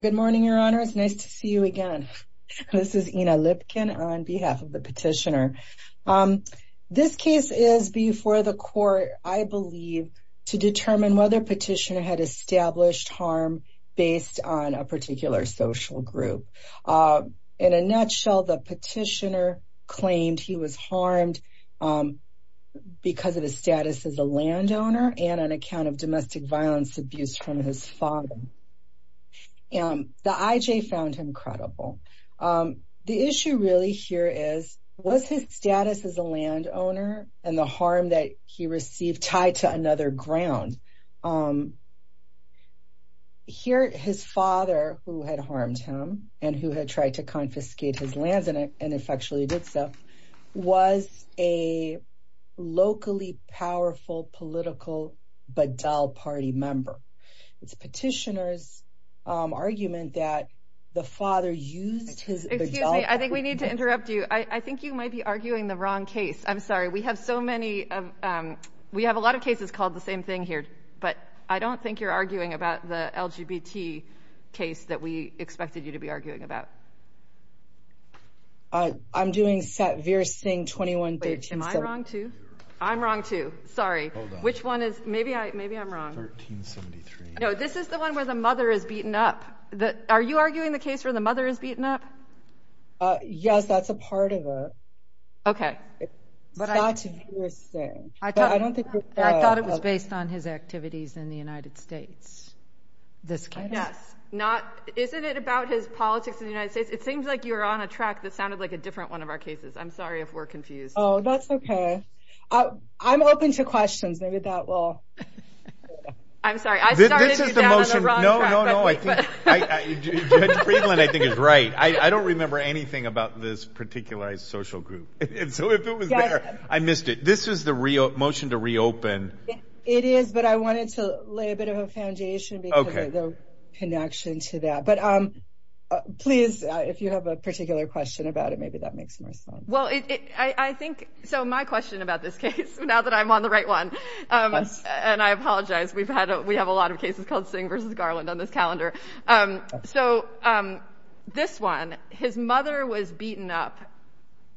Good morning, your honors. Nice to see you again. This is Ina Lipkin on behalf of the petitioner. This case is before the court, I believe, to determine whether petitioner had established harm based on a particular social group. In a nutshell, the petitioner claimed he was harmed because of his status as a landowner and an account of domestic violence abuse from his father. The IJ found him credible. The issue really here is, was his status as a landowner and the harm that he received tied to another ground? Here, his father, who had harmed him and who had tried to confiscate his lands and effectually did so, was a locally powerful political Badal party member. It's petitioner's argument that the father used his... Excuse me. I think we need to interrupt you. I think you might be arguing the wrong case. I'm sorry. We have so many. We have a lot of cases called the same thing here. But I don't think you're arguing about the LGBT case that we expected you to be arguing about. I'm doing Satvir Singh 21... Wait, am I wrong, too? I'm wrong, too. Sorry. Which one is... Maybe I'm wrong. No, this is the one where the mother is beaten up. Are you arguing the case where the mother is beaten up? Yes, that's a part of it. Okay. Satvir Singh. I thought it was based on his activities in the United States. Yes. Isn't it about his politics in the United States? It seems like you're on a track that sounded like a different one of our cases. I'm sorry if we're confused. Oh, that's okay. I'm open to questions. Maybe that will... I'm sorry. I started you down the wrong track. No, no, no. Judge Friedland, I think, is right. I don't remember anything about this particular social group. So if it was there, I missed it. This is the motion to reopen. It is, but I wanted to lay a bit of a foundation because of the connection to that. But please, if you have a particular question about it, maybe that makes more sense. Well, I think... So my question about this case, now that I'm on the right one, and I apologize. We have a lot of cases called Singh versus Garland on this calendar. So this one, his mother was beaten up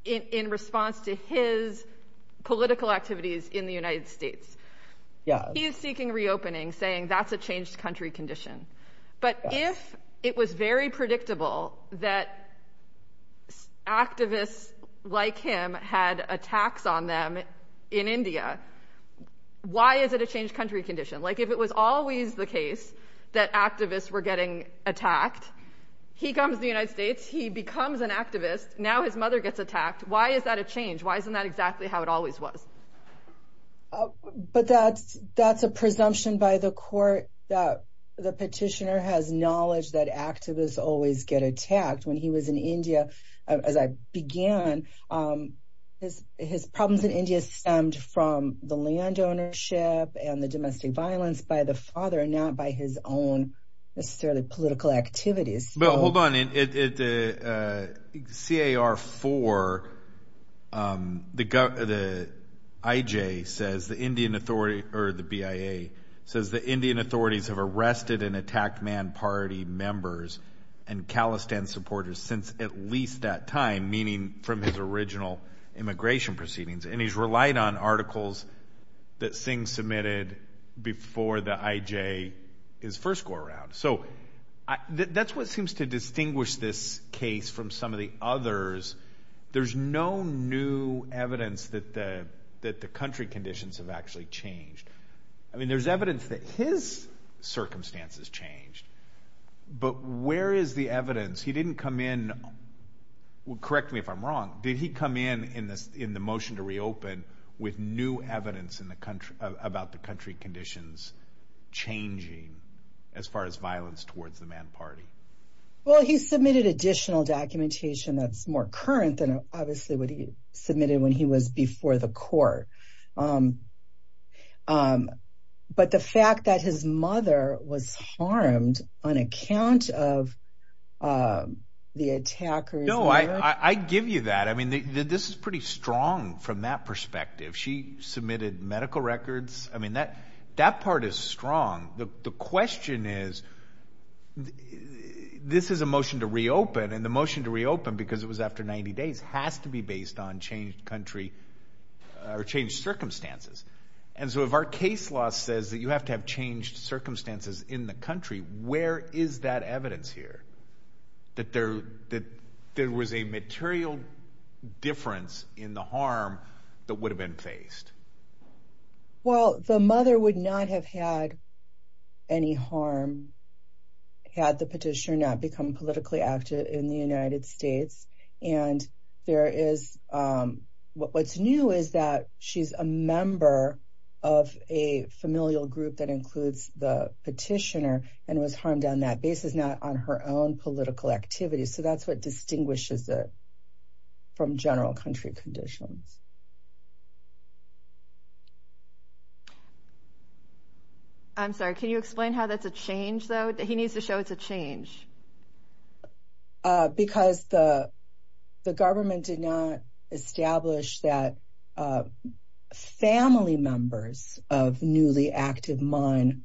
in response to his political activities in the United States. He is seeking reopening, saying that's a changed country condition. But if it was very predictable that activists like him had attacks on them in India, why is it a changed country condition? Like, if it was always the case that activists were getting attacked, he comes to the United States, he becomes an activist, now his mother gets attacked, why is that a change? Why isn't that exactly how it always was? But that's a presumption by the court that the petitioner has knowledge that activists always get attacked. When he was in India, as I began, his problems in India stemmed from the land ownership and the domestic violence by the father, not by his own necessarily political activities. But hold on, C.A.R. 4, the I.J. says, the Indian authority, or the B.I.A. says, the Indian authorities have arrested and attacked Man Party members and Khalistan supporters since at least that time, meaning from his original immigration proceedings. And he's relied on articles that Singh submitted before the I.J. his first go around. So, that's what seems to distinguish this case from some of the others. There's no new evidence that the country conditions have actually changed. I mean, there's evidence that his circumstances changed, but where is the evidence? He didn't come in, correct me if I'm wrong, did he come in in the motion to reopen with new evidence about the country conditions changing as far as violence towards the Man Party? Well, he submitted additional documentation that's more current than obviously what he submitted when he was before the court. But the fact that his mother was harmed on account of the attackers. No, I give you that. I mean, this is pretty strong from that perspective. She submitted medical records. I mean, that part is strong. The question is, this is a motion to reopen, and the motion to reopen, because it was after 90 days, has to be based on changed country or changed circumstances. And so if our case law says that you have to have changed circumstances in the country, where is that evidence here that there was a material difference in the harm that would have been faced? Well, the mother would not have had any harm had the petitioner not become politically active in the United States. And what's new is that she's a member of a familial group that includes the petitioner, and was harmed on that basis, not on her own political activities. So that's what distinguishes it from general country conditions. I'm sorry, can you explain how that's a change, though? He needs to show it's a change. Because the government did not establish that family members of newly active Maan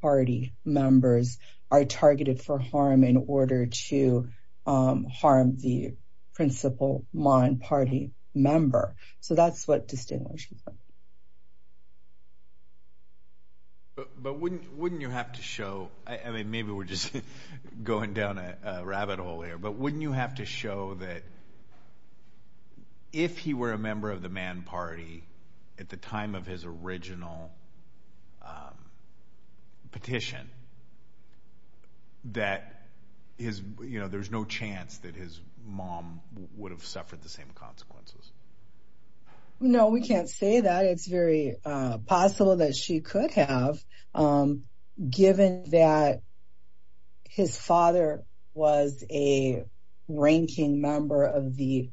Party members are targeted for harm in order to harm the principal Maan Party member. So that's what distinguishes them. But wouldn't you have to show, I mean, maybe we're just going down a rabbit hole here, but wouldn't you have to show that if he were a member of the Maan Party at the time of his original petition, that there's no chance that his mom would have suffered the same consequences? No, we can't say that. It's very possible that she could have, given that his father was a ranking member of the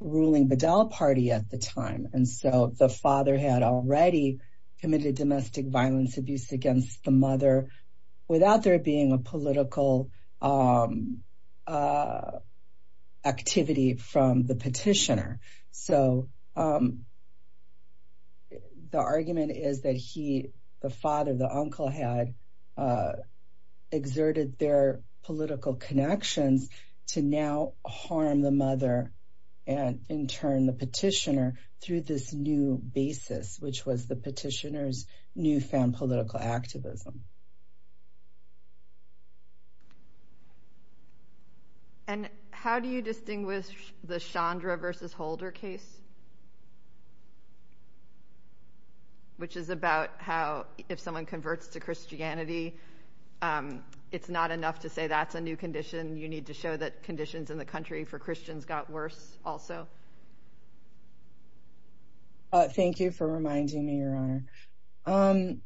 ruling Bedell Party at the time. And so the father had already committed domestic violence abuse against the mother without there being a political activity from the petitioner. So the argument is that he, the father, the uncle, had exerted their political connections to now harm the mother and in turn the petitioner through this new basis, which was the petitioner's newfound political activism. And how do you distinguish the Chandra versus Holder case? Which is about how if someone converts to Christianity, it's not enough to say that's a new condition. You need to show that conditions in the country for Christians got worse also. Thank you for reminding me, Your Honor.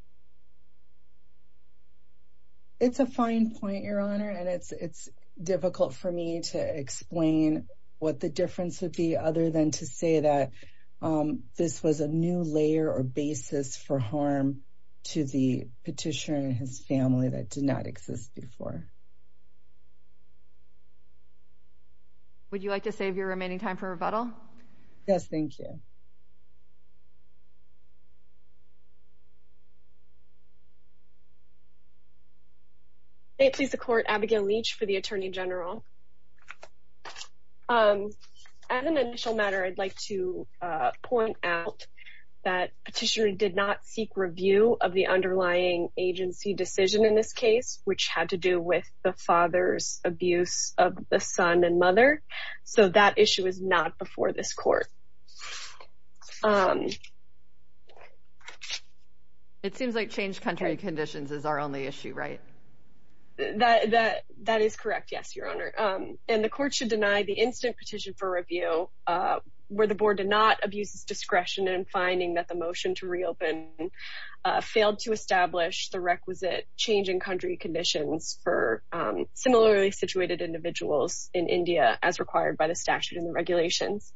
It's a fine point, Your Honor, and it's difficult for me to explain what the difference would be other than to say that this was a new layer or basis for harm to the petitioner and his family that did not exist before. Would you like to save your remaining time for rebuttal? Yes, thank you. May it please the Court, Abigail Leach for the Attorney General. As an initial matter, I'd like to point out that petitioner did not seek review of the underlying agency decision in this case, which had to do with the father's abuse of the son and mother, so that issue is not before this Court. It seems like changed country conditions is our only issue, right? That is correct, yes, Your Honor. And the Court should deny the instant petition for review where the Board did not abuse its discretion in finding that the motion to reopen failed to establish the requisite changing country conditions for similarly situated individuals in India as required by the statute and the regulations.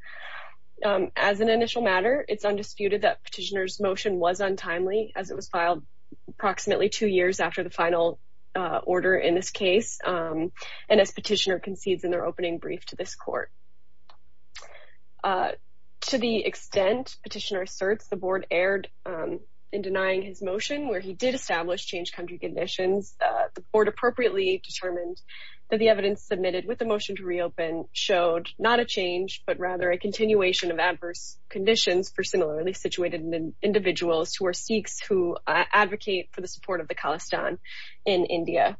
As an initial matter, it's undisputed that petitioner's motion was untimely as it was filed approximately two years after the final order in this case and as petitioner concedes in their opening brief to this Court. To the extent petitioner asserts the Board erred in denying his motion, where he did establish changed country conditions, the Board appropriately determined that the evidence submitted with the motion to reopen showed not a change, but rather a continuation of adverse conditions for similarly situated individuals who are Sikhs who advocate for the support of the Khalistan in India.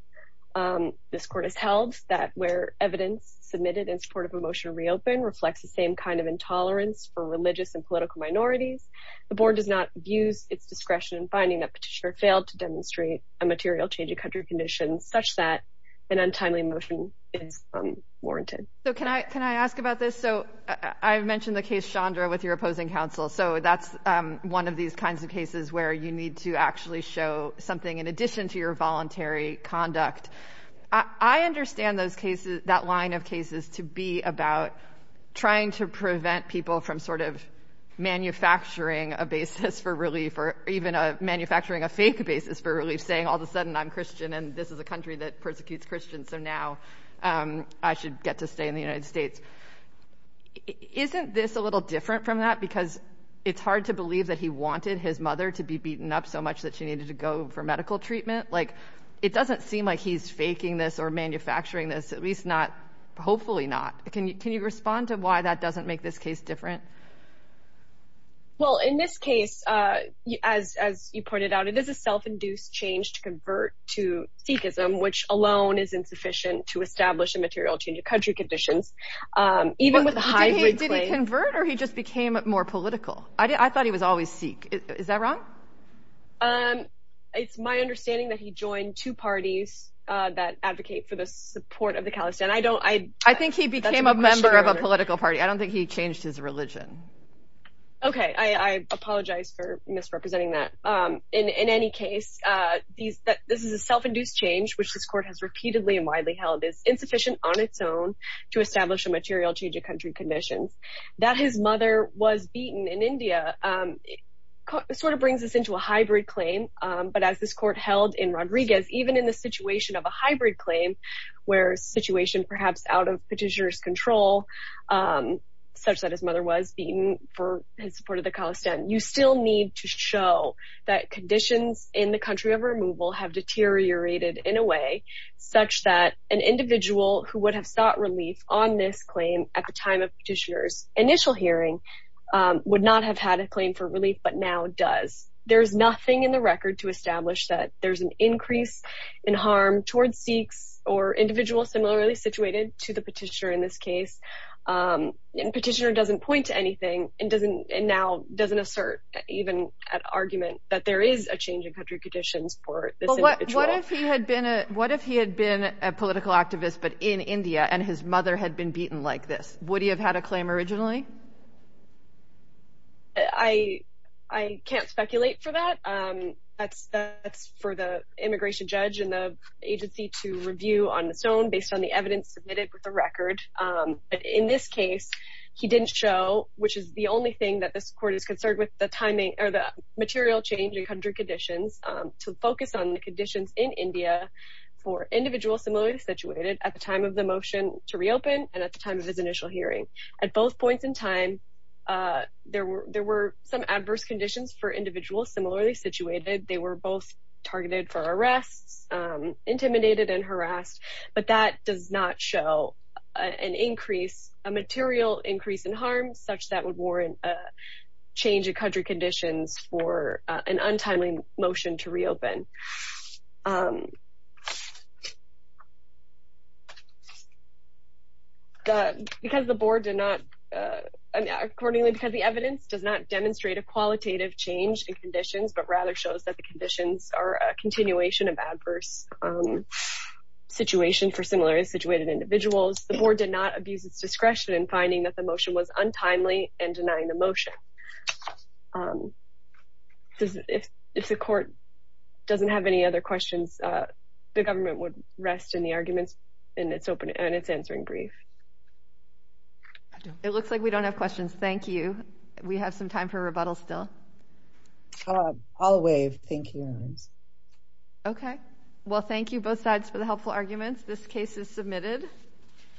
This Court has held that where evidence submitted in support of a motion to reopen reflects the same kind of intolerance for religious and political minorities. The Board does not abuse its discretion in finding that petitioner failed to demonstrate a material change of country conditions such that an untimely motion is warranted. So can I ask about this? So I mentioned the case, Chandra, with your opposing counsel. So that's one of these kinds of cases where you need to actually show something in addition to your voluntary conduct. I understand that line of cases to be about trying to prevent people from sort of manufacturing a basis for relief or even manufacturing a fake basis for relief, saying all of a sudden I'm Christian and this is a country that persecutes Christians so now I should get to stay in the United States. Isn't this a little different from that? Because it's hard to believe that he wanted his mother to be beaten up so much that she needed to go for medical treatment. It doesn't seem like he's faking this or manufacturing this, at least not, hopefully not. Can you respond to why that doesn't make this case different? Well, in this case, as you pointed out, it is a self-induced change to convert to Sikhism, which alone is insufficient to establish a material change of country conditions. Did he convert or he just became more political? I thought he was always Sikh. Is that wrong? It's my understanding that he joined two parties that advocate for the support of the Khalistan. I think he became a member of a political party. I don't think he changed his religion. Okay, I apologize for misrepresenting that. In any case, this is a self-induced change, which this court has repeatedly and widely held is insufficient on its own to establish a material change of country conditions. That his mother was beaten in India sort of brings us into a hybrid claim. But as this court held in Rodriguez, even in the situation of a hybrid claim, where situation perhaps out of petitioner's control, such that his mother was beaten for his support of the Khalistan, you still need to show that conditions in the country of removal have deteriorated in a way such that an individual who would have sought relief on this claim at the time of petitioner's initial hearing would not have had a claim for relief, but now does. There's nothing in the record to establish that there's an increase in harm towards Sikhs or individuals similarly situated to the petitioner in this case. Petitioner doesn't point to anything and now doesn't assert even an argument that there is a change of country conditions for this individual. What if he had been a political activist, but in India and his mother had been beaten like this? Would he have had a claim originally? I can't speculate for that. That's for the immigration judge and the agency to review on its own based on the evidence submitted with the record. But in this case, he didn't show, which is the only thing that this court is concerned with, the material change in country conditions to focus on the conditions in India for individuals similarly situated at the time of the motion to reopen and at the time of his initial hearing. At both points in time, there were some adverse conditions for individuals similarly situated. They were both targeted for arrests, intimidated and harassed, but that does not show an increase, a material increase in harm such that would warrant a change of country conditions for an untimely motion to reopen. Accordingly, because the evidence does not demonstrate a qualitative change in conditions, but rather shows that the conditions are a continuation of adverse situation for similarly situated individuals, the board did not abuse its discretion in finding that the motion was untimely and denying the motion. If the court doesn't have any other questions, the government would rest in the arguments and it's answering brief. It looks like we don't have questions. Thank you. We have some time for rebuttals still. I'll waive. Thank you. Well, thank you both sides for the helpful arguments. This case is submitted.